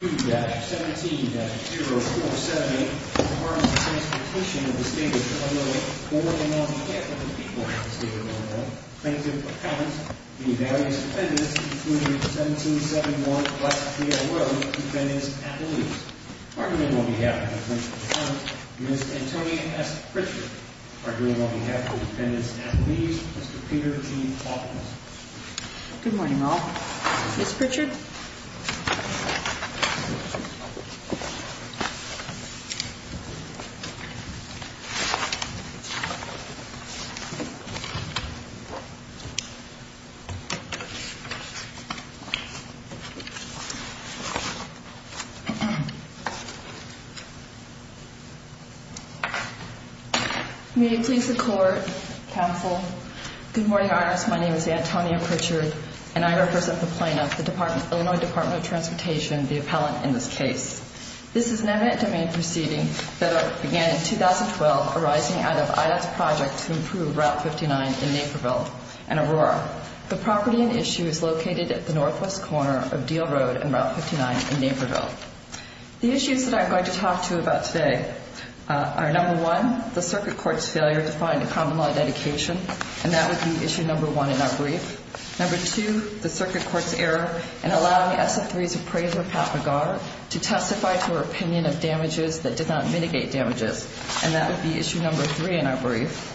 2-17-0478 requires the transportation of the State of Illinois board and non-capital people of the State of Illinois plaintiff-appellant to the various defendants including 1771 West Diehl Rd. defendants-appellees. Argument on behalf of the plaintiff-appellant, Ms. Antonia S. Pritchard. Argument on behalf of the defendants-appellees, Mr. Peter G. Hawkins. Good morning, all. Ms. Pritchard? May it please the Court, Counsel. Good morning, Your Honors. My name is Antonia Pritchard and I represent the plaintiff, the Illinois Department of Transportation, the appellant in this case. This is an eminent domain proceeding that began in 2012 arising out of IADT's project to improve Route 59 in Naperville and Aurora. The property in issue is located at the northwest corner of Diehl Rd. and Route 59 in Naperville. The issues that I'm going to talk to you about today are, number one, the circuit court's failure to find a common law dedication, and that would be issue number one in our brief. Number two, the circuit court's error in allowing SF3's appraiser, Pat McGar, to testify to her opinion of damages that did not mitigate damages, and that would be issue number three in our brief.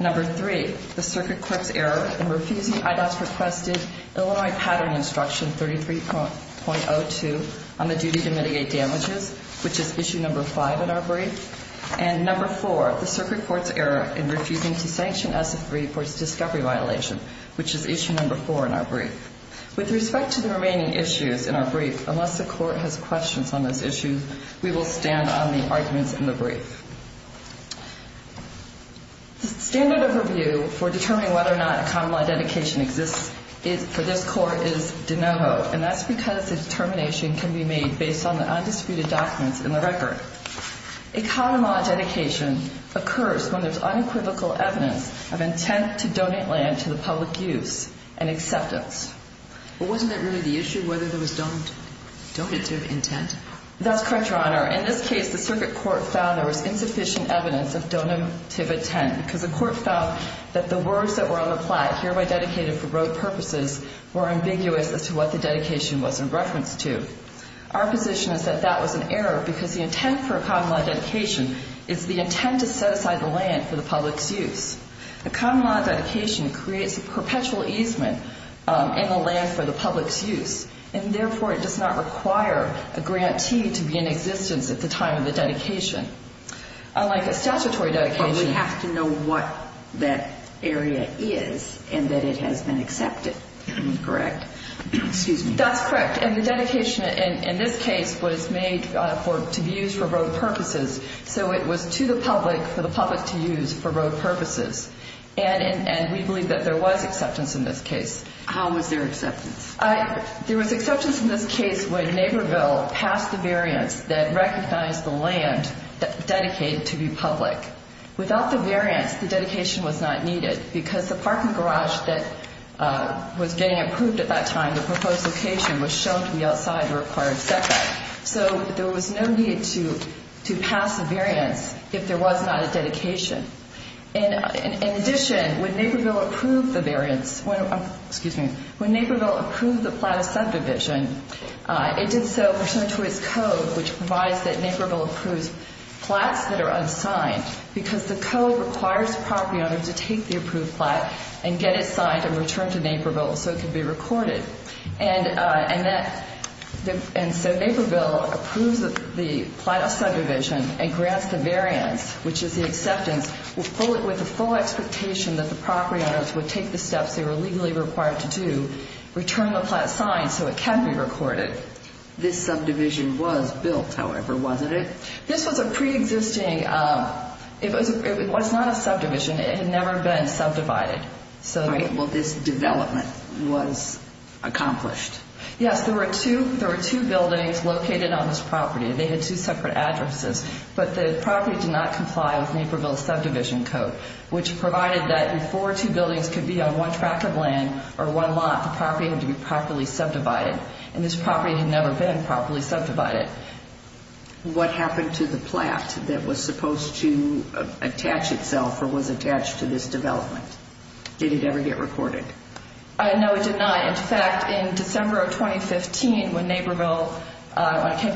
Number three, the circuit court's error in refusing IADT's requested Illinois Pattern Instruction 33.02 on the duty to mitigate damages, which is issue number five in our brief. And number four, the circuit court's error in refusing to sanction SF3 for its discovery violation, which is issue number four in our brief. With respect to the remaining issues in our brief, unless the court has questions on those issues, we will stand on the arguments in the brief. The standard overview for determining whether or not a common law dedication exists for this court is de novo, and that's because the determination can be made based on the undisputed documents in the record. A common law dedication occurs when there's unequivocal evidence of intent to donate land to the public use and acceptance. But wasn't that really the issue, whether there was donative intent? That's correct, Your Honor. In this case, the circuit court found there was insufficient evidence of donative intent because the court found that the words that were on the plaque, hereby dedicated for road purposes, were ambiguous as to what the dedication was in reference to. Our position is that that was an error because the intent for a common law dedication is the intent to set aside the land for the public's use. A common law dedication creates a perpetual easement in the land for the public's use, and therefore, it does not require a grantee to be in existence at the time of the dedication. Unlike a statutory dedication. But we have to know what that area is and that it has been accepted, correct? Excuse me. That's correct. And the dedication in this case was made to be used for road purposes, so it was to the public for the public to use for road purposes. And we believe that there was acceptance in this case. How was there acceptance? There was acceptance in this case when Neighborville passed the variance that recognized the land dedicated to be public. Without the variance, the dedication was not needed because the parking garage that was getting approved at that time, the proposed location, was shown to be outside the required sector. So there was no need to pass the variance if there was not a dedication. In addition, when Neighborville approved the variance, excuse me, when Neighborville approved the plot of subdivision, it did so pursuant to its code, which provides that Neighborville approves plots that are unsigned, because the code requires the property owner to take the approved plot and get it signed and returned to Neighborville so it can be recorded. And so Neighborville approves the plot of subdivision and grants the variance, which is the acceptance, with the full expectation that the property owners would take the steps they were legally required to do, return the plot signed so it can be recorded. This subdivision was built, however, wasn't it? This was a preexisting, it was not a subdivision. It had never been subdivided. All right, well, this development was accomplished. Yes, there were two buildings located on this property. They had two separate addresses. But the property did not comply with Neighborville's subdivision code, which provided that if four or two buildings could be on one track of land or one lot, the property had to be properly subdivided. And this property had never been properly subdivided. What happened to the plot that was supposed to attach itself or was attached to this development? Did it ever get recorded? No, it did not. In fact, in December of 2015, when it came to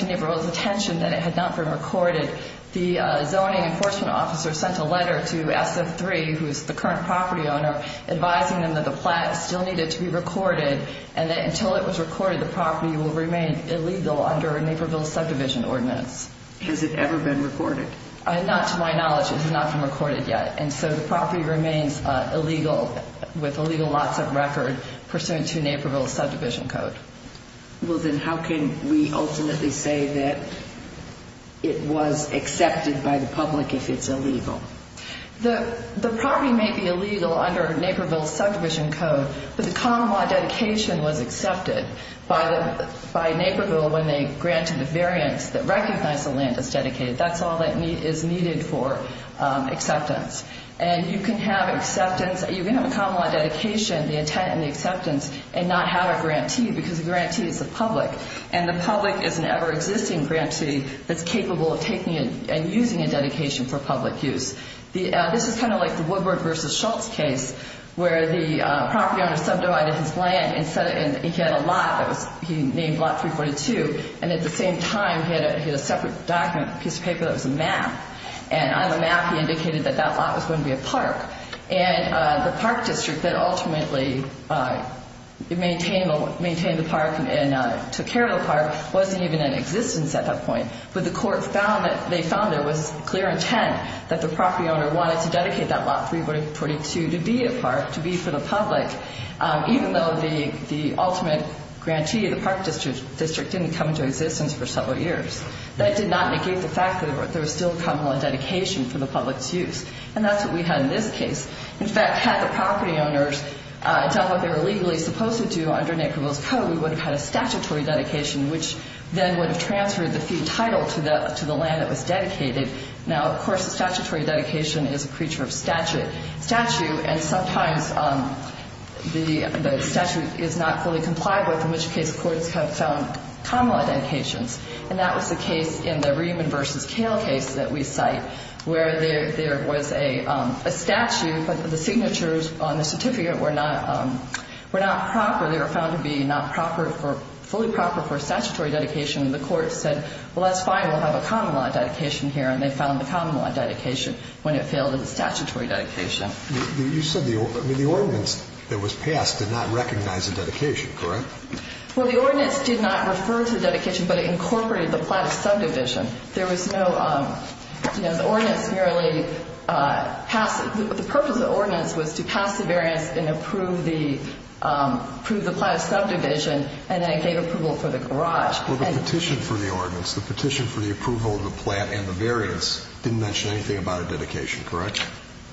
Neighborville's attention that it had not been recorded, the zoning enforcement officer sent a letter to SF3, who is the current property owner, advising them that the plot still needed to be recorded and that until it was recorded, the property will remain illegal under a Neighborville subdivision ordinance. Has it ever been recorded? Not to my knowledge, it has not been recorded yet. And so the property remains illegal with illegal lots of record pursuant to Neighborville's subdivision code. Well, then how can we ultimately say that it was accepted by the public if it's illegal? The property may be illegal under Neighborville's subdivision code, but the common law dedication was accepted by Neighborville when they granted the variance that recognized the land as dedicated. That's all that is needed for acceptance. And you can have acceptance. You can have a common law dedication, the intent and the acceptance, and not have it granteed because the grantee is the public, and the public is an ever-existing grantee that's capable of taking and using a dedication for public use. This is kind of like the Woodward v. Schultz case where the property owner subdivided his land and he had a lot that he named Lot 342, and at the same time he had a separate document, a piece of paper that was a map, and on the map he indicated that that lot was going to be a park. And the park district that ultimately maintained the park and took care of the park wasn't even in existence at that point. But the court found that there was clear intent that the property owner wanted to dedicate that Lot 342 to be a park, to be for the public, even though the ultimate grantee of the park district didn't come into existence for several years. That did not negate the fact that there was still a common law dedication for the public's use. And that's what we had in this case. In fact, had the property owners done what they were legally supposed to do under Neighborville's Code, we would have had a statutory dedication, which then would have transferred the field title to the land that was dedicated. And sometimes the statute is not fully compliable, in which case courts have found common law dedications. And that was the case in the Rehman v. Kale case that we cite, where there was a statute, but the signatures on the certificate were not proper. They were found to be not proper for – fully proper for a statutory dedication. And the court said, well, that's fine, we'll have a common law dedication here. And they found the common law dedication when it failed as a statutory dedication. You said the ordinance that was passed did not recognize the dedication, correct? Well, the ordinance did not refer to the dedication, but it incorporated the plot of subdivision. There was no – the ordinance merely passed – the purpose of the ordinance was to pass the variance and approve the plot of subdivision, and then it gave approval for the garage. Well, the petition for the ordinance, the petition for the approval of the plot and the variance, didn't mention anything about a dedication, correct?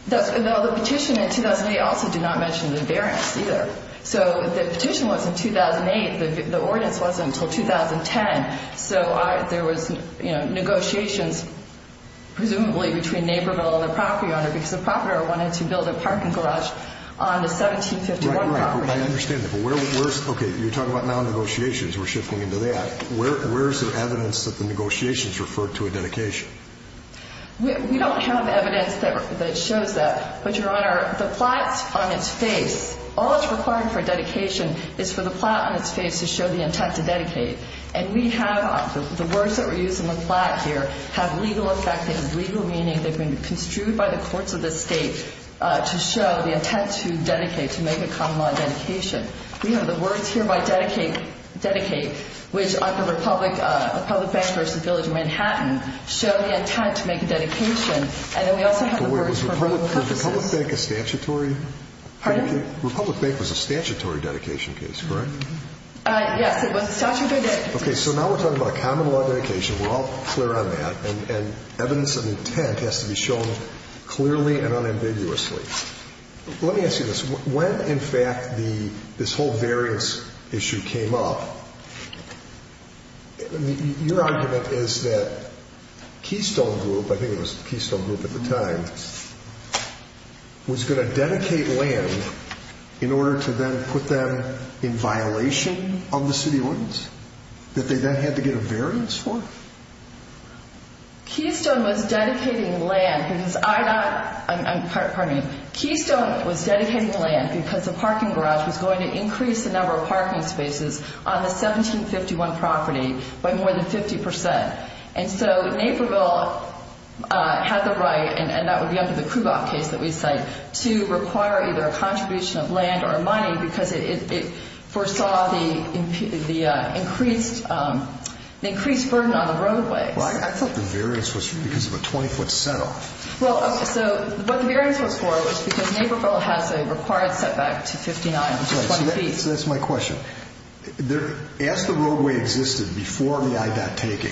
No, the petition in 2008 also did not mention the variance either. So the petition was in 2008. The ordinance wasn't until 2010. So there was negotiations presumably between Naperville and the property owner because the property owner wanted to build a parking garage on the 1751 property. I understand that. But where – okay, you're talking about non-negotiations. We're shifting into that. Where is there evidence that the negotiations referred to a dedication? We don't have evidence that shows that. But, Your Honor, the plots on its face – all that's required for a dedication is for the plot on its face to show the intent to dedicate. And we have – the words that were used in the plot here have legal effect. They have legal meaning. They've been construed by the courts of this state to show the intent to dedicate, to make a common-law dedication. We have the words here by dedicate, which are the Republic Bank versus Village of Manhattan, show the intent to make a dedication. And then we also have the words for legal purposes. But wait, was Republic Bank a statutory – Pardon? Republic Bank was a statutory dedication case, correct? Yes, it was a statutory dedication case. Okay, so now we're talking about a common-law dedication. We're all clear on that. And evidence of intent has to be shown clearly and unambiguously. Let me ask you this. When, in fact, this whole variance issue came up, your argument is that Keystone Group – I think it was Keystone Group at the time – was going to dedicate land in order to then put them in violation of the city ordinance that they then had to get a variance for? Keystone was dedicating land because I not – I'm – pardon me. Keystone was dedicating land because the parking garage was going to increase the number of parking spaces on the 1751 property by more than 50 percent. And so Naperville had the right – and that would be under the Kubok case that we cite – to require either a contribution of land or money because it foresaw the increased burden on the roadway. Well, I thought the variance was because of a 20-foot setoff. Well, so what the variance was for was because Naperville has a required setback to 59, which is 20 feet. So that's my question. As the roadway existed before the I-DOT taking,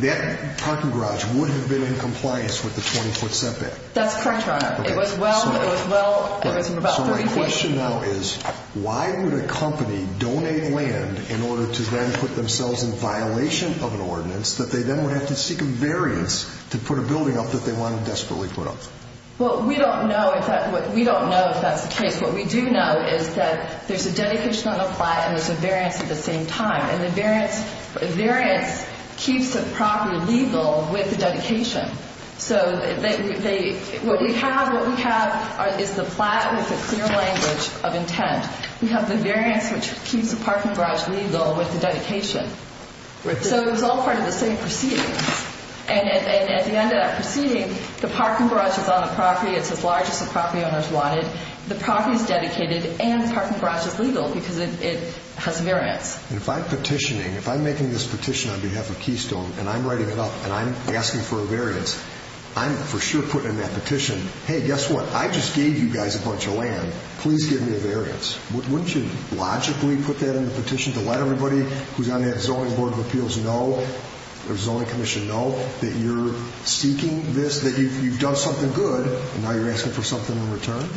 that parking garage would have been in compliance with the 20-foot setback. That's correct, Your Honor. It was well – it was well – it was about 30 feet. So my question now is why would a company donate land in order to then put themselves in violation of an ordinance that they then would have to seek a variance to put a building up that they wanted to desperately put up? Well, we don't know if that – we don't know if that's the case. What we do know is that there's a dedication on the plot and there's a variance at the same time. And the variance – the variance keeps the property legal with the dedication. So they – what we have – what we have is the plot with the clear language of intent. We have the variance, which keeps the parking garage legal with the dedication. So it was all part of the same proceedings. And at the end of that proceeding, the parking garage is on the property. It's as large as the property owners wanted. The property is dedicated and the parking garage is legal because it has a variance. And if I'm petitioning – if I'm making this petition on behalf of Keystone and I'm writing it up and I'm asking for a variance, I'm for sure putting in that petition, hey, guess what? I just gave you guys a bunch of land. Please give me a variance. Wouldn't you logically put that in the petition to let everybody who's on that Zoning Board of Appeals know or Zoning Commission know that you're seeking this, that you've done something good, and now you're asking for something in return?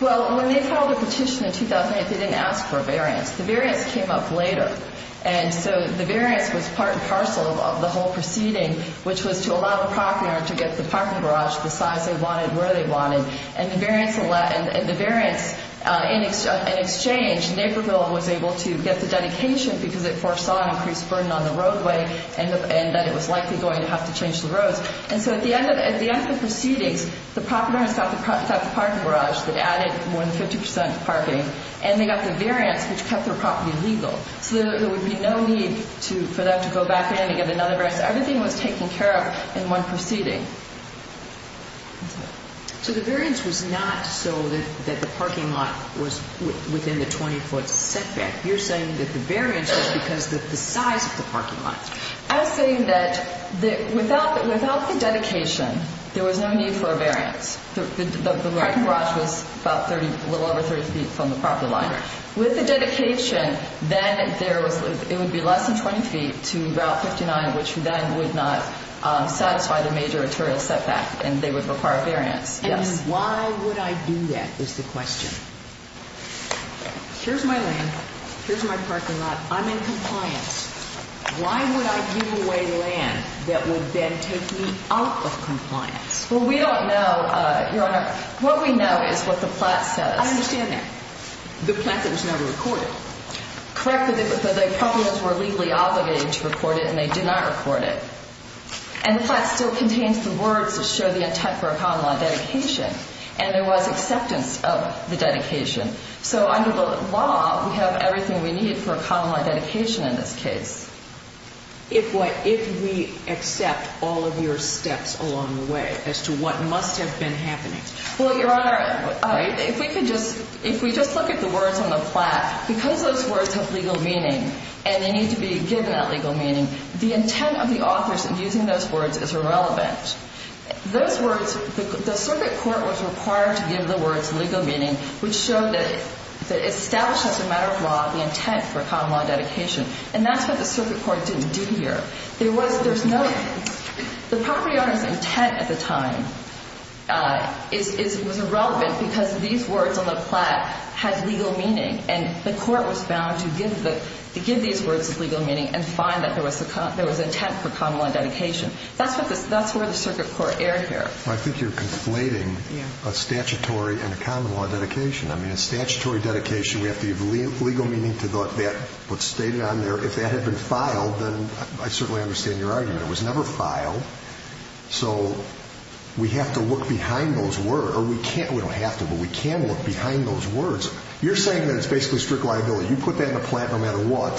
Well, when they filed the petition in 2008, they didn't ask for a variance. The variance came up later. And so the variance was part and parcel of the whole proceeding, which was to allow the property owner to get the parking garage the size they wanted, where they wanted. And the variance in exchange, Naperville was able to get the dedication because it foresaw an increased burden on the roadway and that it was likely going to have to change the roads. And so at the end of the proceedings, the property owners got the parking garage that added more than 50 percent to parking, and they got the variance, which kept their property legal. So there would be no need for them to go back in and get another variance. Everything was taken care of in one proceeding. So the variance was not so that the parking lot was within the 20-foot setback. You're saying that the variance was because of the size of the parking lot. I was saying that without the dedication, there was no need for a variance. The parking garage was a little over 30 feet from the property line. With the dedication, then it would be less than 20 feet to Route 59, which then would not satisfy the major arterial setback, and they would require a variance. And why would I do that is the question. Here's my land. Here's my parking lot. I'm in compliance. Why would I give away land that would then take me out of compliance? Well, we don't know, Your Honor. What we know is what the plat says. I understand that. The plat that was never recorded. Correct, but the property owners were legally obligated to record it, and they did not record it. And the plat still contains the words that show the intent for a common-law dedication, and there was acceptance of the dedication. So under the law, we have everything we need for a common-law dedication in this case. If we accept all of your steps along the way as to what must have been happening. Well, Your Honor, if we just look at the words on the plat, because those words have legal meaning and they need to be given that legal meaning, the intent of the authors in using those words is irrelevant. Those words, the circuit court was required to give the words legal meaning, which showed that it establishes as a matter of law the intent for a common-law dedication. And that's what the circuit court didn't do here. The property owner's intent at the time was irrelevant because these words on the plat had legal meaning, and the court was bound to give these words legal meaning and find that there was intent for common-law dedication. That's where the circuit court erred here. I think you're conflating a statutory and a common-law dedication. I mean, a statutory dedication, we have to give legal meaning to what's stated on there. If that had been filed, then I certainly understand your argument. It was never filed. So we have to look behind those words. Or we can't, we don't have to, but we can look behind those words. You're saying that it's basically strict liability. You put that in the plat no matter what.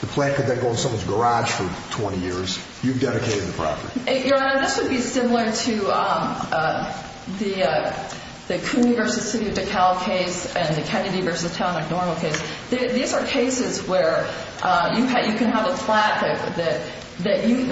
The plat could then go in someone's garage for 20 years. You've dedicated the property. Your Honor, this would be similar to the Cooney v. City of DeKalb case and the Kennedy v. Town of Normal case. These are cases where you can have a plat that you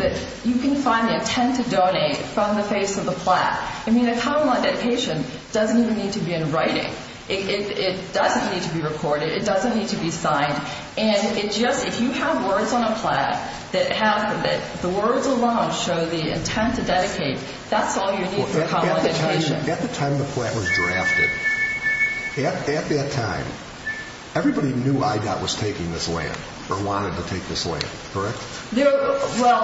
can find the intent to donate from the face of the plat. I mean, a common-law dedication doesn't even need to be in writing. It doesn't need to be recorded. It doesn't need to be signed. If you have words on a plat that have the words alone show the intent to dedicate, that's all you need for a common dedication. At the time the plat was drafted, at that time, everybody knew IDOT was taking this land or wanted to take this land, correct? Well,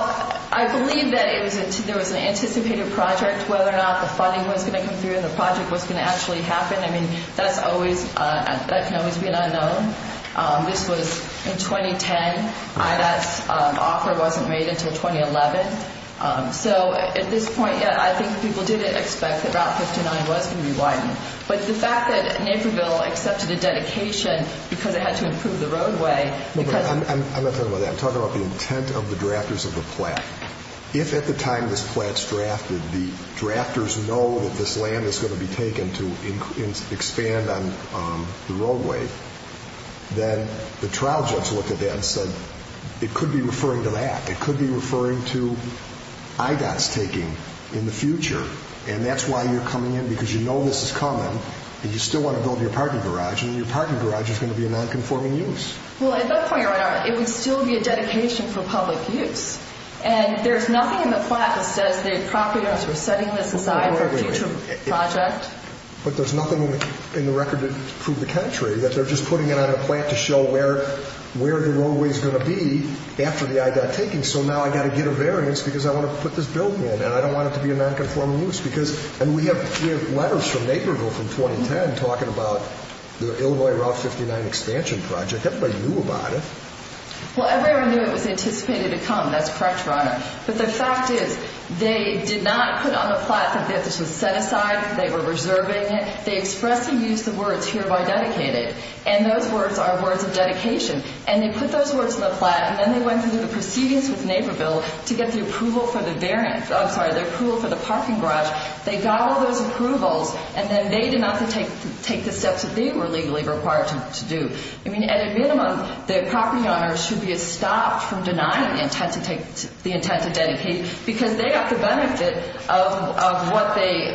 I believe that there was an anticipated project, whether or not the funding was going to come through and the project was going to actually happen. I mean, that can always be an unknown. This was in 2010. IDOT's offer wasn't made until 2011. So at this point, yeah, I think people did expect that Route 59 was going to be widened. But the fact that Naperville accepted a dedication because it had to improve the roadway— I'm not talking about that. I'm talking about the intent of the drafters of the plat. If at the time this plat's drafted, the drafters know that this land is going to be taken to expand on the roadway, then the trial judge looked at that and said, it could be referring to that. It could be referring to IDOT's taking in the future. And that's why you're coming in, because you know this is coming, and you still want to build your parking garage, and your parking garage is going to be a nonconforming use. Well, at that point in time, it would still be a dedication for public use. And there's nothing in the plat that says the property owners were setting this aside for a future project. But there's nothing in the record to prove the contrary, that they're just putting it on a plat to show where the roadway's going to be after the IDOT taking. So now I've got to get a variance because I want to put this building in, and I don't want it to be a nonconforming use. And we have letters from Naperville from 2010 talking about the Illinois Route 59 expansion project. Everybody knew about it. Well, everyone knew it was anticipated to come. That's correct, Your Honor. But the fact is, they did not put on the plat that this was set aside, they were reserving it. They expressly used the words, hereby dedicated. And those words are words of dedication. And they put those words on the plat, and then they went through the proceedings with Naperville to get the approval for the variance. I'm sorry, the approval for the parking garage. They got all those approvals, and then they did not take the steps that they were legally required to do. I mean, at a minimum, the property owners should be stopped from denying the intent to take the intent to dedicate because they got the benefit of what they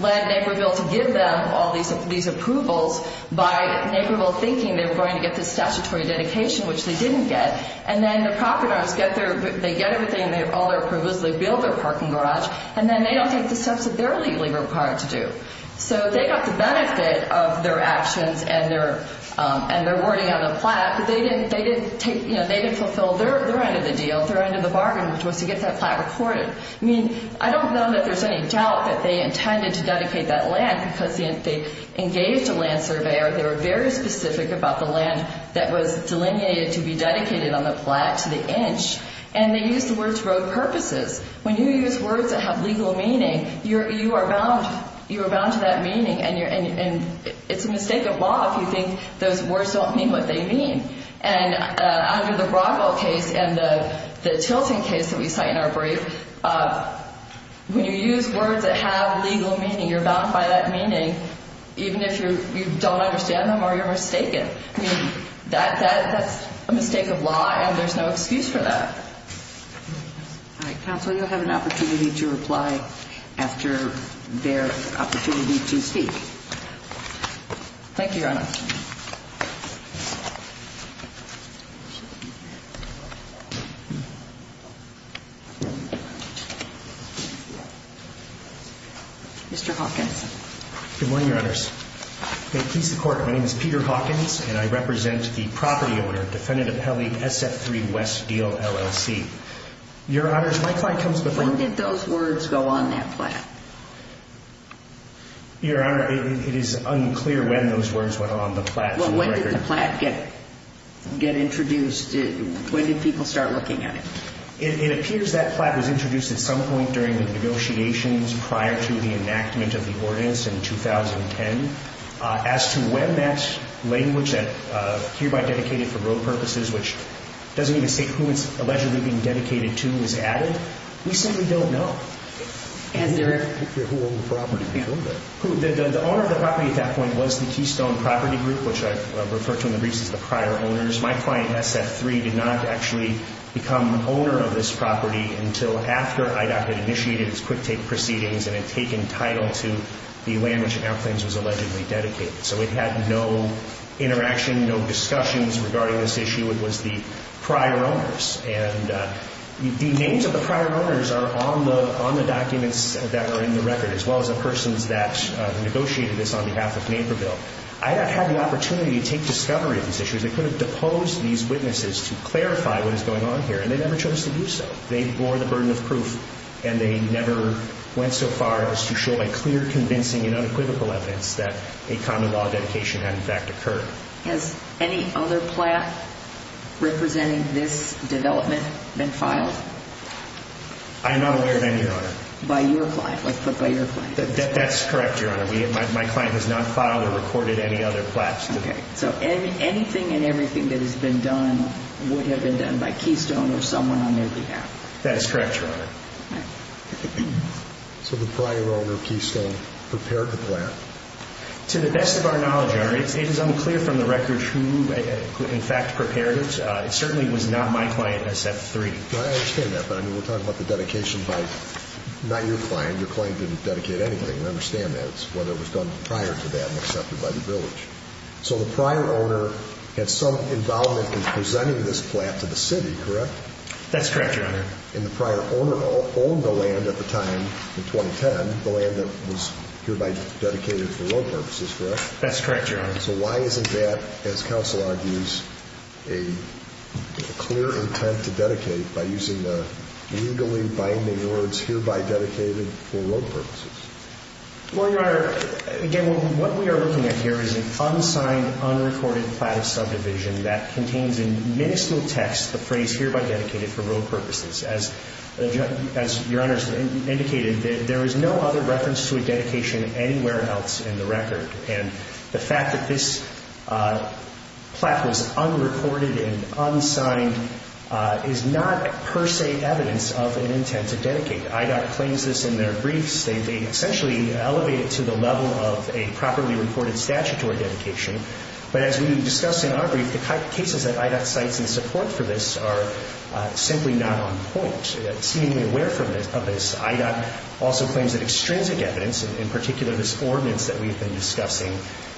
led Naperville to give them, all these approvals, by Naperville thinking they were going to get the statutory dedication, which they didn't get. And then the property owners get their, they get everything, and they have all their approvals, they build their parking garage, and then they don't take the steps that they're legally required to do. So they got the benefit of their actions and their wording on the plat, but they didn't take, you know, they didn't fulfill their end of the deal, their end of the bargain, which was to get that plat recorded. I mean, I don't know that there's any doubt that they intended to dedicate that land because they engaged a land surveyor. They were very specific about the land that was delineated to be dedicated on the plat to the inch, and they used the words for both purposes. When you use words that have legal meaning, you are bound to that meaning, and it's a mistake of law if you think those words don't mean what they mean. And under the Broadwell case and the Tilton case that we cite in our brief, when you use words that have legal meaning, you're bound by that meaning, even if you don't understand them or you're mistaken. I mean, that's a mistake of law, and there's no excuse for that. All right. Counsel, you'll have an opportunity to reply after their opportunity to speak. Thank you, Your Honor. Mr. Hawkins. Good morning, Your Honors. May it please the Court, my name is Peter Hawkins, and I represent the property owner, Defendant Appellee SF3 West Deal LLC. Your Honors, my client comes before you. When did those words go on that plat? Your Honor, it is unclear when those words went on the plat. Well, when did the plat get introduced? When did people start looking at it? It appears that plat was introduced at some point during the negotiations prior to the enactment of the ordinance in 2010. As to when that language that hereby dedicated for road purposes, which doesn't even state who it's allegedly being dedicated to, was added, we simply don't know. And who owned the property? The owner of the property at that point was the Keystone Property Group, which I refer to in the briefs as the prior owners. My client, SF3, did not actually become owner of this property until after IDOT had initiated its quick take proceedings and had taken title to the language in our claims was allegedly dedicated. So it had no interaction, no discussions regarding this issue. It was the prior owners. And the names of the prior owners are on the documents that are in the record, as well as the persons that negotiated this on behalf of Naperville. IDOT had the opportunity to take discovery of these issues. They could have deposed these witnesses to clarify what is going on here, and they never chose to do so. They bore the burden of proof, and they never went so far as to show a clear convincing and unequivocal evidence that a common law dedication had, in fact, occurred. Has any other plat representing this development been filed? I am not aware of any, Your Honor. By your client, like put by your client? That's correct, Your Honor. My client has not filed or recorded any other plats. Okay. So anything and everything that has been done would have been done by Keystone or someone on their behalf. That is correct, Your Honor. So the prior owner of Keystone prepared the plat? To the best of our knowledge, Your Honor, it is unclear from the record who, in fact, prepared it. It certainly was not my client SF3. I understand that, but, I mean, we're talking about the dedication by not your client. Your client didn't dedicate anything. I understand that. It's whether it was done prior to that and accepted by the village. So the prior owner had some involvement in presenting this plat to the city, correct? That's correct, Your Honor. And the prior owner owned the land at the time, in 2010, the land that was hereby dedicated for road purposes, correct? That's correct, Your Honor. So why isn't that, as counsel argues, a clear intent to dedicate by using the legally binding words hereby dedicated for road purposes? Well, Your Honor, again, what we are looking at here is an unsigned, unrecorded plat of subdivision that contains in miniscule text the phrase hereby dedicated for road purposes. As Your Honor has indicated, there is no other reference to a dedication anywhere else in the record. And the fact that this plat was unrecorded and unsigned is not per se evidence of an intent to dedicate. IDOT claims this in their briefs. They essentially elevate it to the level of a properly reported statutory dedication. But as we discussed in our brief, the cases that IDOT cites in support for this are simply not on point. Seemingly aware of this, IDOT also claims that extrinsic evidence, in particular this ordinance that we've been discussing,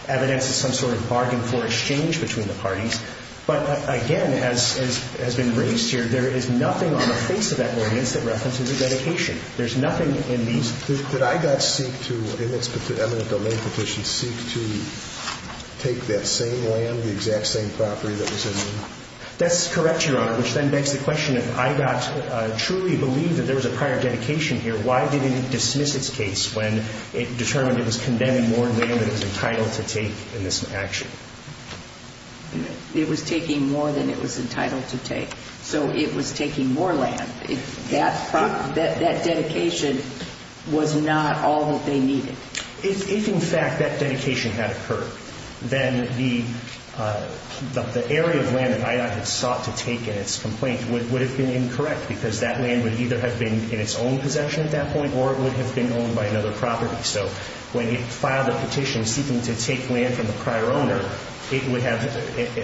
evidence of some sort of bargain floor exchange between the parties. But again, as has been raised here, there is nothing on the face of that ordinance that references a dedication. There's nothing in these. Did IDOT seek to, in its eminent domain petition, seek to take that same land, the exact same property that was in there? That's correct, Your Honor, which then begs the question, if IDOT truly believed that there was a prior dedication here, why didn't it dismiss its case when it determined it was condemning more land than it was entitled to take in this action? It was taking more than it was entitled to take. So it was taking more land. That dedication was not all that they needed. If, in fact, that dedication had occurred, then the area of land that IDOT had sought to take in its complaint would have been incorrect because that land would either have been in its own possession at that point, or it would have been owned by another property. So when it filed a petition seeking to take land from the prior owner, it would have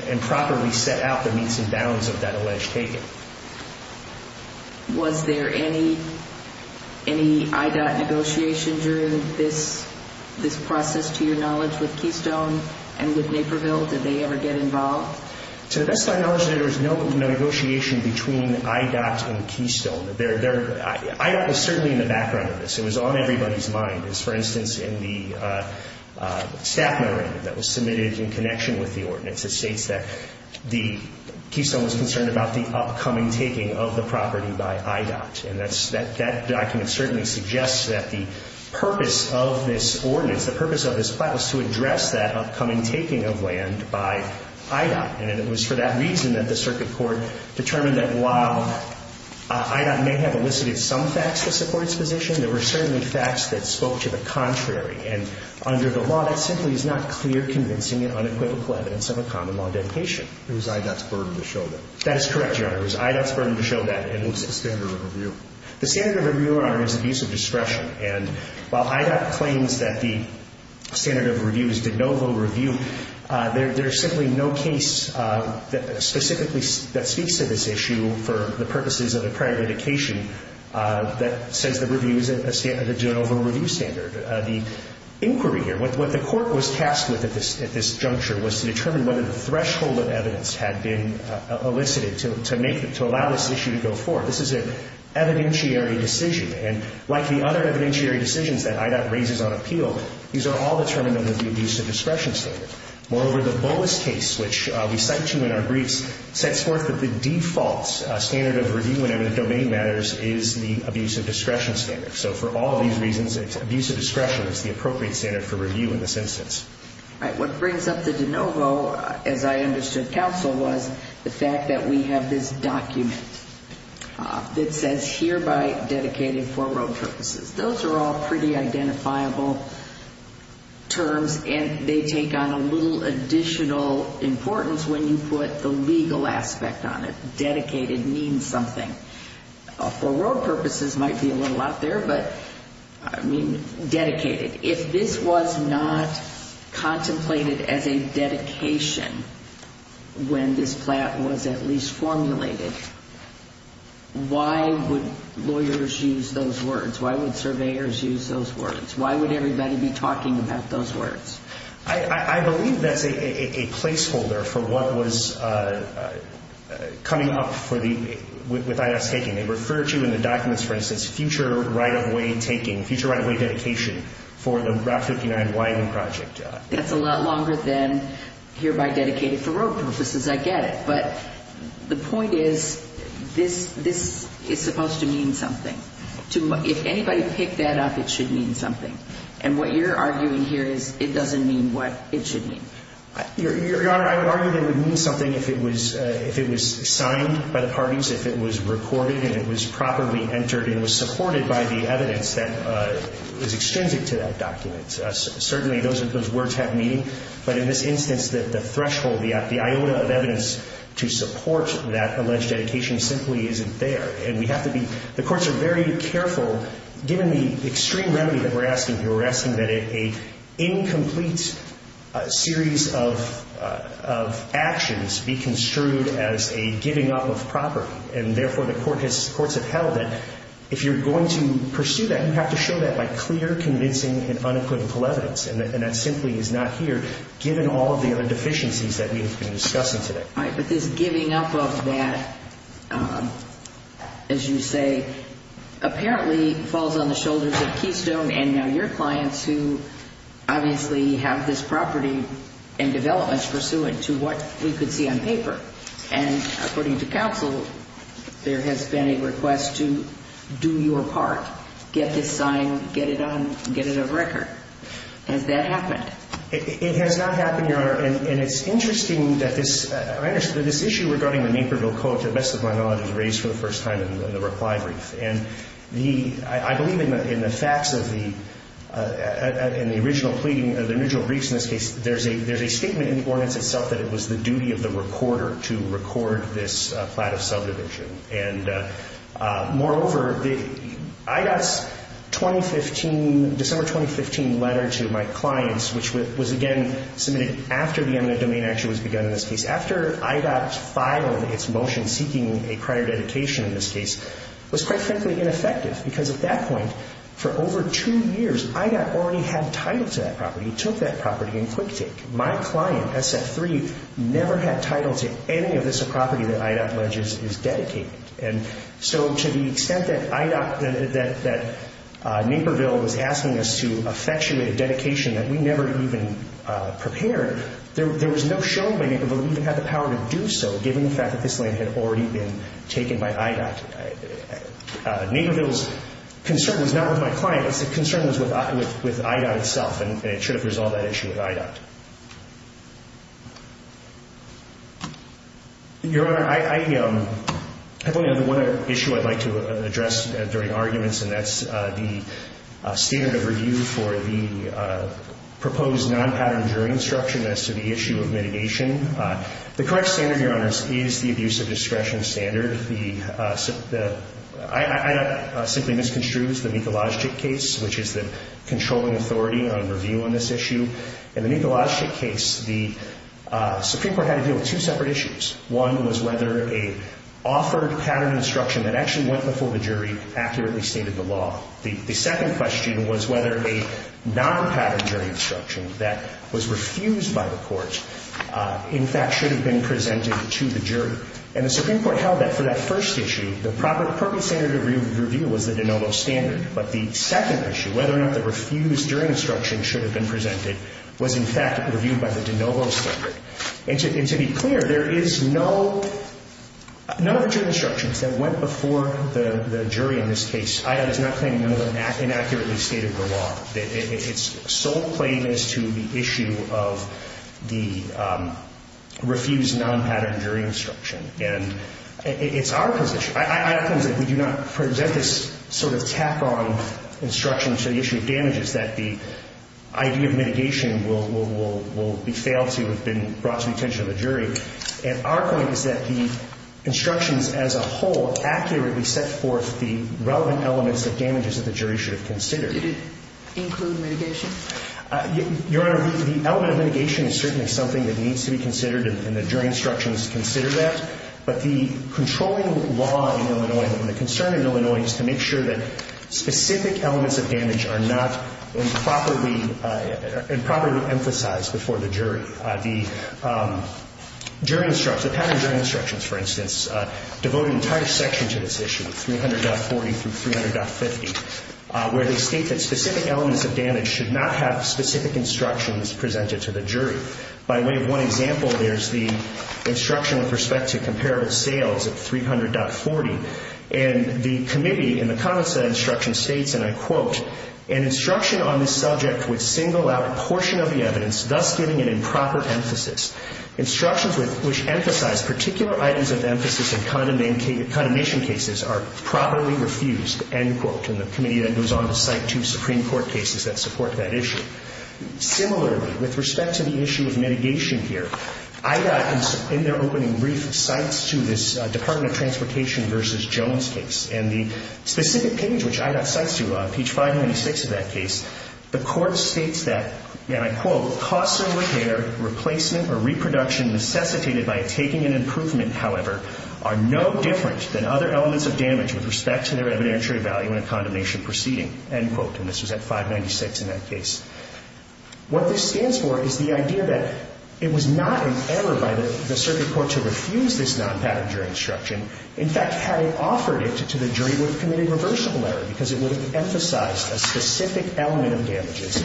improperly set out the means and bounds of that alleged taking. Was there any IDOT negotiation during this process, to your knowledge, with Keystone and with Naperville? Did they ever get involved? To the best of my knowledge, there was no negotiation between IDOT and Keystone. IDOT was certainly in the background of this. It was on everybody's mind. For instance, in the staff memorandum that was submitted in connection with the ordinance, it states that Keystone was concerned about the upcoming taking of the property by IDOT. And that document certainly suggests that the purpose of this ordinance, the purpose of this file, was to address that upcoming taking of land by IDOT. And it was for that reason that the circuit court determined that while IDOT may have elicited some facts to support its position, there were certainly facts that spoke to the contrary. And under the law, that simply is not clear, convincing, and unequivocal evidence of a common law dedication. It was IDOT's burden to show that. That is correct, Your Honor. It was IDOT's burden to show that. And what's the standard of review? The standard of review, Your Honor, is abuse of discretion. And while IDOT claims that the standard of review is de novo review, there is simply no case specifically that speaks to this issue for the purposes of a prior indication that says the review is a de novo review standard. The inquiry here, what the court was tasked with at this juncture was to determine whether the threshold of evidence had been elicited to allow this issue to go forward. This is an evidentiary decision. And like the other evidentiary decisions that IDOT raises on appeal, these are all determined under the abuse of discretion standard. Moreover, the Boas case, which we cite to in our briefs, sets forth that the default standard of review whenever the domain matters is the abuse of discretion standard. So for all of these reasons, it's abuse of discretion that's the appropriate standard for review in this instance. What brings up the de novo, as I understood counsel, was the fact that we have this document that says hereby dedicated for road purposes. Those are all pretty identifiable terms, and they take on a little additional importance when you put the legal aspect on it. Dedicated means something. For road purposes might be a little out there, but I mean dedicated. If this was not contemplated as a dedication when this plan was at least formulated, why would lawyers use those words? Why would surveyors use those words? Why would everybody be talking about those words? I believe that's a placeholder for what was coming up with IDOT's taking. They refer to in the documents, for instance, future right-of-way taking, future right-of-way dedication for the Route 59 winding project. That's a lot longer than hereby dedicated for road purposes, I get it. But the point is this is supposed to mean something. If anybody picked that up, it should mean something. And what you're arguing here is it doesn't mean what it should mean. Your Honor, I would argue it would mean something if it was signed by the parties, if it was recorded and it was properly entered and was supported by the evidence that is extrinsic to that document. Certainly those words have meaning, but in this instance, the threshold, the iota of evidence to support that alleged dedication simply isn't there. The courts are very careful, given the extreme remedy that we're asking here, we're asking that an incomplete series of actions be construed as a giving up of property. And, therefore, the courts have held that if you're going to pursue that, you have to show that by clear, convincing, and unequivocal evidence. And that simply is not here, given all of the other deficiencies that we have been discussing today. All right. But this giving up of that, as you say, apparently falls on the shoulders of Keystone and now your clients who obviously have this property in development pursuant to what we could see on paper. And according to counsel, there has been a request to do your part, get this signed, get it on, get it a record. Has that happened? It has not happened, Your Honor. And it's interesting that this issue regarding the Naperville Coach, to the best of my knowledge, was raised for the first time in the reply brief. And I believe in the facts of the original briefs in this case, there's a statement in the ordinance itself that it was the duty of the recorder to record this plat of subdivision. And, moreover, I got a December 2015 letter to my clients, which was, again, submitted after the eminent domain action was begun in this case, after IDOT filed its motion seeking a prior dedication in this case, was quite frankly ineffective because at that point, for over two years, IDOT already had title to that property, took that property in quick take. My client, SF3, never had title to any of this property that IDOT alleges is dedicated. And so to the extent that Naperville was asking us to effectuate a dedication that we never even prepared, there was no showing that Naperville even had the power to do so, given the fact that this land had already been taken by IDOT. Naperville's concern was not with my client. Its concern was with IDOT itself, and it should have resolved that issue with IDOT. Your Honor, I have only one other issue I'd like to address during arguments, and that's the standard of review for the proposed non-pattern jury instruction as to the issue of mitigation. The correct standard, Your Honor, is the abuse of discretion standard. The IDOT simply misconstrues the Mikolajczyk case, which is the controlling authority on review on this issue. In the Mikolajczyk case, the Supreme Court had to deal with two separate issues. One was whether a offered pattern instruction that actually went before the jury accurately stated the law. The second question was whether a non-pattern jury instruction that was refused by the court, in fact, should have been presented to the jury. And the Supreme Court held that for that first issue, the proper standard of review was the de novo standard. But the second issue, whether or not the refused jury instruction should have been presented, was, in fact, reviewed by the de novo standard. And to be clear, there is no other jury instructions that went before the jury in this case. IDOT is not claiming none of them inaccurately stated the law. Its sole claim is to the issue of the refused non-pattern jury instruction. And it's our position. IDOT claims that we do not present this sort of tack-on instruction to the issue of damages, that the idea of mitigation will be failed to have been brought to the attention of the jury. And our point is that the instructions as a whole accurately set forth the relevant elements of damages that the jury should have considered. Did it include mitigation? Your Honor, the element of mitigation is certainly something that needs to be considered, and the jury instructions consider that. But the controlling law in Illinois and the concern in Illinois is to make sure that it's properly emphasized before the jury. The jury instructions, the pattern jury instructions, for instance, devote an entire section to this issue, 300.40 through 300.50, where they state that specific elements of damage should not have specific instructions presented to the jury. By way of one example, there's the instruction with respect to comparable sales of 300.40. And the committee, in the comments to that instruction, states, and I quote, an instruction on this subject would single out a portion of the evidence, thus giving an improper emphasis. Instructions which emphasize particular items of emphasis in condemnation cases are properly refused, end quote. And the committee then goes on to cite two Supreme Court cases that support that issue. Similarly, with respect to the issue of mitigation here, IDOT, in their opening brief, cites to this Department of Transportation v. Jones case. And the specific page which IDOT cites to, page 596 of that case, the court states that, and I quote, costs of repair, replacement, or reproduction necessitated by taking an improvement, however, are no different than other elements of damage with respect to their evidentiary value in a condemnation proceeding. End quote. And this was at 596 in that case. What this stands for is the idea that it was not an error by the circuit court to refuse this non-pattern jury instruction. In fact, had it offered it to the jury, it would have committed a reversible error, because it would have emphasized a specific element of damages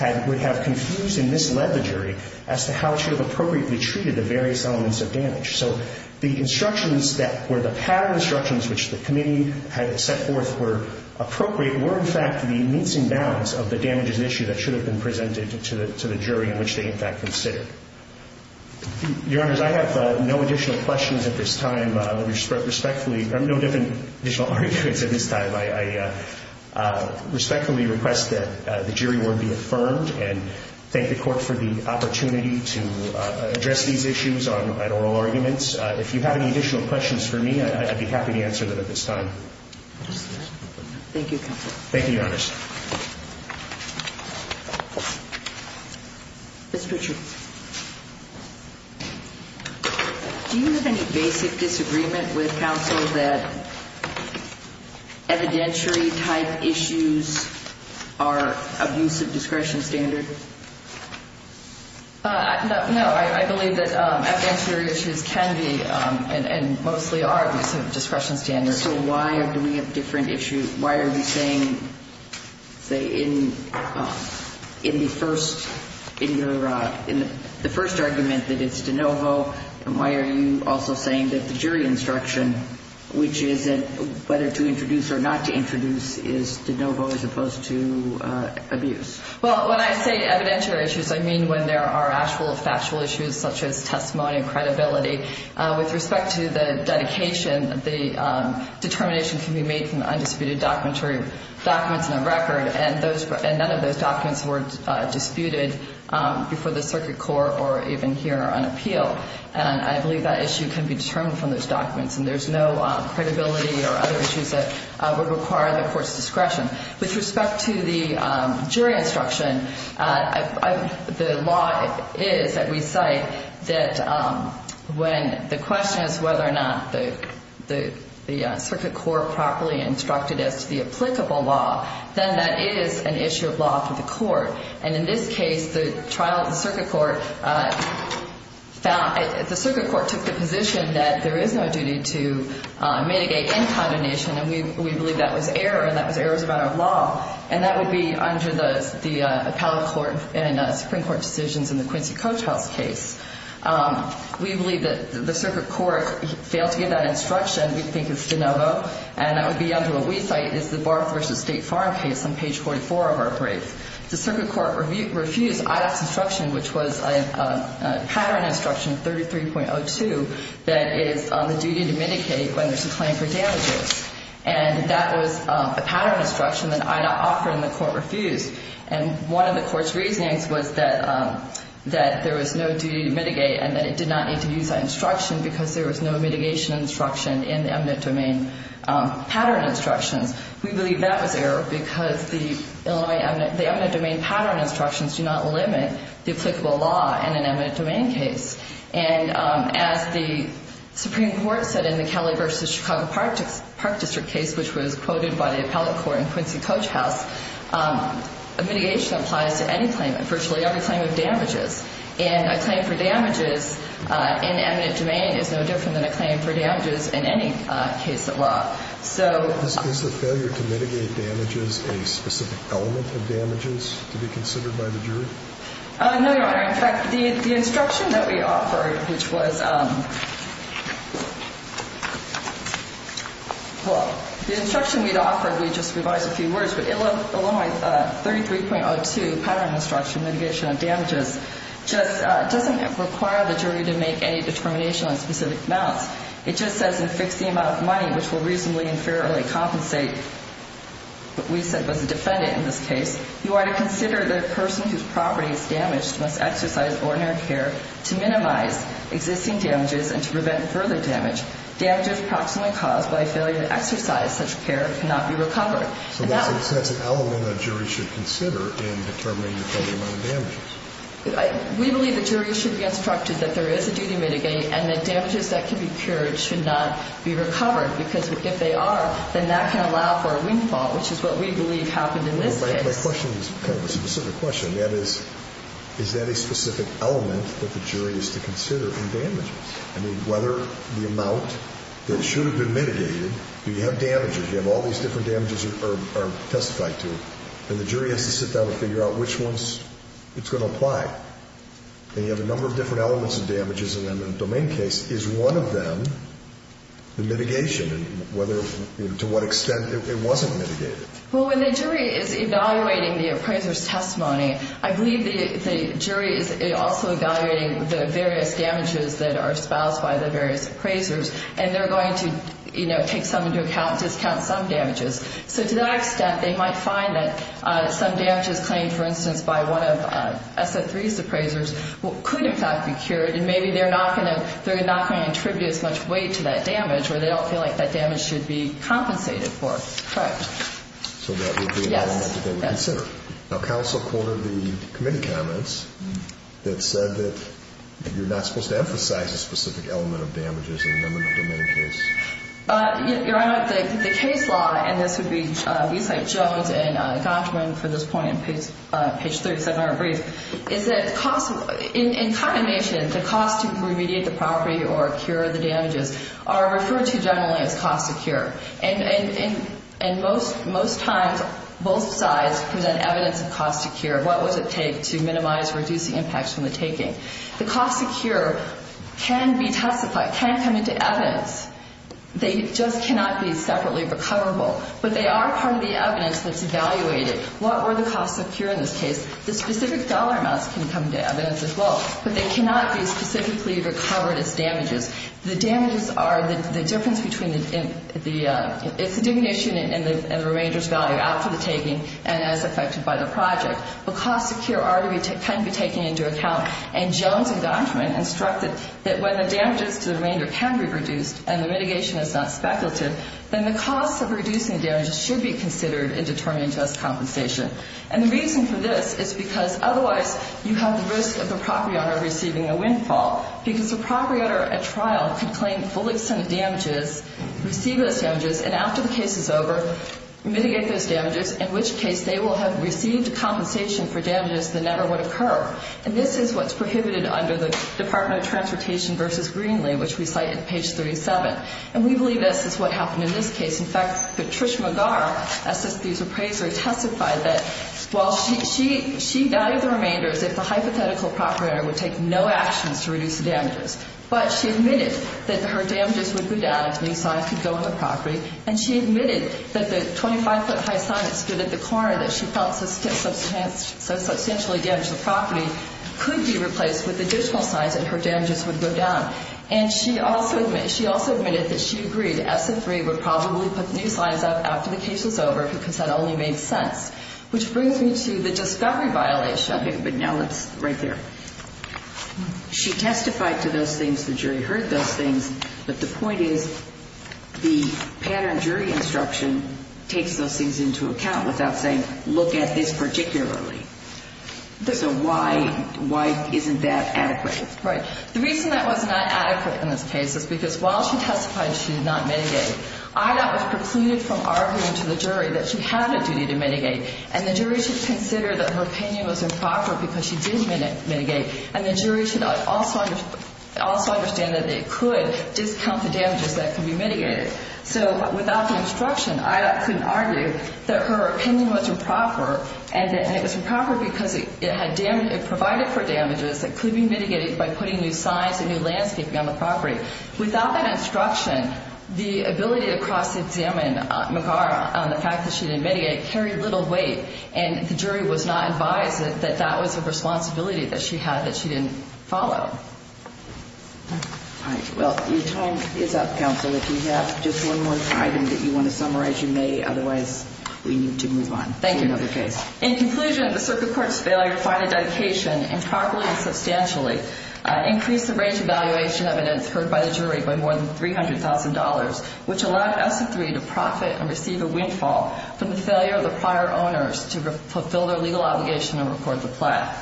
and would have confused and misled the jury as to how it should have appropriately treated the various elements of damage. So the instructions that were the pattern instructions which the committee had set forth were appropriate, were, in fact, the means and bounds of the damages issue that should have been presented to the jury in which they, in fact, considered. Your Honors, I have no additional questions at this time. Let me respectfully, I have no different additional arguments at this time. I respectfully request that the jury word be affirmed and thank the court for the opportunity to address these issues at oral arguments. If you have any additional questions for me, I'd be happy to answer them at this time. Thank you, Counsel. Thank you, Your Honors. Ms. Pritchard. Do you have any basic disagreement with counsel that evidentiary type issues are abusive discretion standard? No. I believe that evidentiary issues can be and mostly are abusive discretion standards. So why do we have different issues? Why are you saying, say, in the first argument that it's de novo, why are you also saying that the jury instruction, which is whether to introduce or not to introduce, is de novo as opposed to abuse? Well, when I say evidentiary issues, I mean when there are actual factual issues such as testimony and credibility. With respect to the dedication, the determination can be made from undisputed documentary documents and a record, and none of those documents were disputed before the circuit court or even here on appeal. And I believe that issue can be determined from those documents, and there's no credibility or other issues that would require the court's discretion. With respect to the jury instruction, the law is, that we cite, that when the question is whether or not the circuit court properly instructed as to the applicable law, then that is an issue of law for the court. And in this case, the circuit court took the position that there is no duty to mitigate in condemnation, and we believe that was error, and that was errors about our law, and that would be under the appellate court and Supreme Court decisions in the Quincy Cotell's case. We believe that the circuit court failed to give that instruction, we think, as de novo, and that would be under what we cite as the Barth v. State Farm case on page 44 of our brief. The circuit court refused Ida's instruction, which was a pattern instruction, 33.02, that it is on the duty to mitigate when there's a claim for damages. And that was a pattern instruction that Ida offered and the court refused. And one of the court's reasonings was that there was no duty to mitigate and that it did not need to use that instruction because there was no mitigation instruction in the eminent domain pattern instructions. We believe that was error because the eminent domain pattern instructions do not limit the applicable law in an eminent domain case. And as the Supreme Court said in the Kelly v. Chicago Park District case, which was quoted by the appellate court in Quincy Cotell's house, mitigation applies to any claim, virtually every claim of damages. And a claim for damages in eminent domain is no different than a claim for damages in any case of law. Is the failure to mitigate damages a specific element of damages to be considered by the jury? No, Your Honor. In fact, the instruction that we offered, which was, well, the instruction we'd offered, we just revised a few words, but Illinois 33.02, pattern instruction, mitigation of damages, just doesn't require the jury to make any determination on specific amounts. It just says, in fixing the amount of money, which will reasonably and fairly compensate, what we said was the defendant in this case, you are to consider the person whose property is damaged must exercise ordinary care to minimize existing damages and to prevent further damage. Damages approximately caused by failure to exercise such care cannot be recovered. So that's an element that a jury should consider in determining the total amount of damages. We believe the jury should be instructed that there is a duty to mitigate and that damages that can be cured should not be recovered, because if they are, then that can allow for a windfall, which is what we believe happened in this case. My question is kind of a specific question. That is, is that a specific element that the jury is to consider in damages? I mean, whether the amount that should have been mitigated, you have damages, you have all these different damages that are testified to, and the jury has to sit down and figure out which ones it's going to apply. And you have a number of different elements of damages, and then the domain case is one of them, the mitigation, and whether, to what extent it wasn't mitigated. Well, when the jury is evaluating the appraiser's testimony, I believe the jury is also evaluating the various damages that are espoused by the various appraisers, and they're going to, you know, take some into account and discount some damages. So to that extent, they might find that some damages claimed, for instance, by one of SO3's appraisers could in fact be cured, and maybe they're not going to attribute as much weight to that damage or they don't feel like that damage should be compensated for. Correct. So that would be an element that they would consider. Yes. Now, counsel quoted the committee comments that said that you're not supposed to emphasize a specific element of damages in the number of domain cases. Your Honor, the case law, and this would be Eastlake, Jones, and Gottman for this point, page 37 of our brief, is that in condemnation, the cost to remediate the property or cure the damages are referred to generally as cost of cure. And most times, both sides present evidence of cost of cure, what does it take to minimize or reduce the impacts from the taking. The cost of cure can be testified, can come into evidence. They just cannot be separately recoverable. But they are part of the evidence that's evaluated. What were the costs of cure in this case? The specific dollar amounts can come into evidence as well, but they cannot be specifically recovered as damages. The damages are the difference between the, it's a diminution in the remainder's value after the taking and as affected by the project. The cost of cure can be taken into account. And Jones and Gottman instructed that when the damages to the remainder can be reduced and the mitigation is not speculative, then the cost of reducing the damages should be considered in determining just compensation. And the reason for this is because otherwise you have the risk of the property owner receiving a windfall because the property owner at trial could claim full extent of damages, receive those damages, and after the case is over, mitigate those damages, in which case they will have received compensation for damages that never would occur. And this is what's prohibited under the Department of Transportation versus Greenlee, which we cite at page 37. And we believe this is what happened in this case. In fact, Patricia McGar, SSB's appraiser, testified that while she valued the remainders, if the hypothetical property owner would take no actions to reduce the damages, but she admitted that her damages would go down if new signs could go on the property, and she admitted that the 25-foot high sign that stood at the corner that she felt substantially damaged the property could be replaced with additional signs and her damages would go down. And she also admitted that she agreed SF3 would probably put new signs up after the case was over because that only made sense, which brings me to the discovery violation. Okay. But now let's right there. She testified to those things. The jury heard those things. But the point is the pattern jury instruction takes those things into account without saying look at this particularly. So why isn't that adequate? Right. The reason that was not adequate in this case is because while she testified she did not mitigate, Ida was precluded from arguing to the jury that she had a duty to mitigate, and the jury should consider that her opinion was improper because she did mitigate, and the jury should also understand that it could discount the damages that could be mitigated. So without the instruction, Ida couldn't argue that her opinion was improper, and it was improper because it provided for damages that could be mitigated by putting new signs and new landscaping on the property. Without that instruction, the ability to cross-examine McGarrett on the fact that she didn't mitigate carried little weight, and the jury was not advised that that was a responsibility that she had that she didn't follow. All right. Well, your time is up, counsel. If you have just one more item that you want to summarize, you may. Otherwise, we need to move on to another case. Thank you. In conclusion, the circuit court's failure to find a dedication improperly and substantially increased the range of evaluation evidence heard by the jury by more than $300,000, which allowed ESSA 3 to profit and receive a windfall from the failure of the prior owners to fulfill their legal obligation and report the plaque.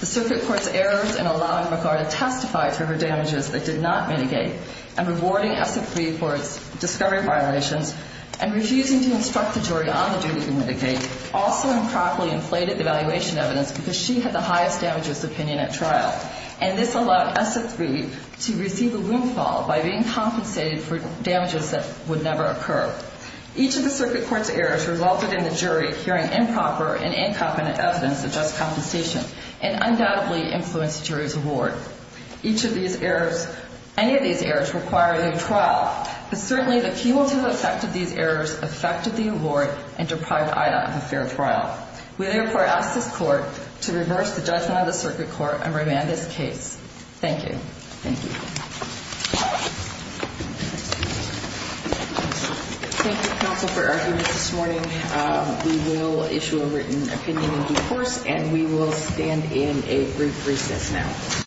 The circuit court's errors in allowing McGarrett to testify for her damages that did not mitigate and rewarding ESSA 3 for its discovery violations and refusing to instruct the jury on the duty to mitigate also improperly inflated the evaluation evidence because she had the highest damages opinion at trial, and this allowed ESSA 3 to receive a windfall by being compensated for damages that would never occur. Each of the circuit court's errors resulted in the jury hearing improper and incompetent evidence of just compensation and undoubtedly influenced the jury's award. Each of these errors, any of these errors require a new trial, but certainly the people who affected these errors affected the award and deprived Ida of a fair trial. We therefore ask this court to reverse the judgment of the circuit court and remand this case. Thank you. Thank you. Thank you, counsel, for arguing this morning. We will issue a written opinion in due course, and we will stand in a brief recess now.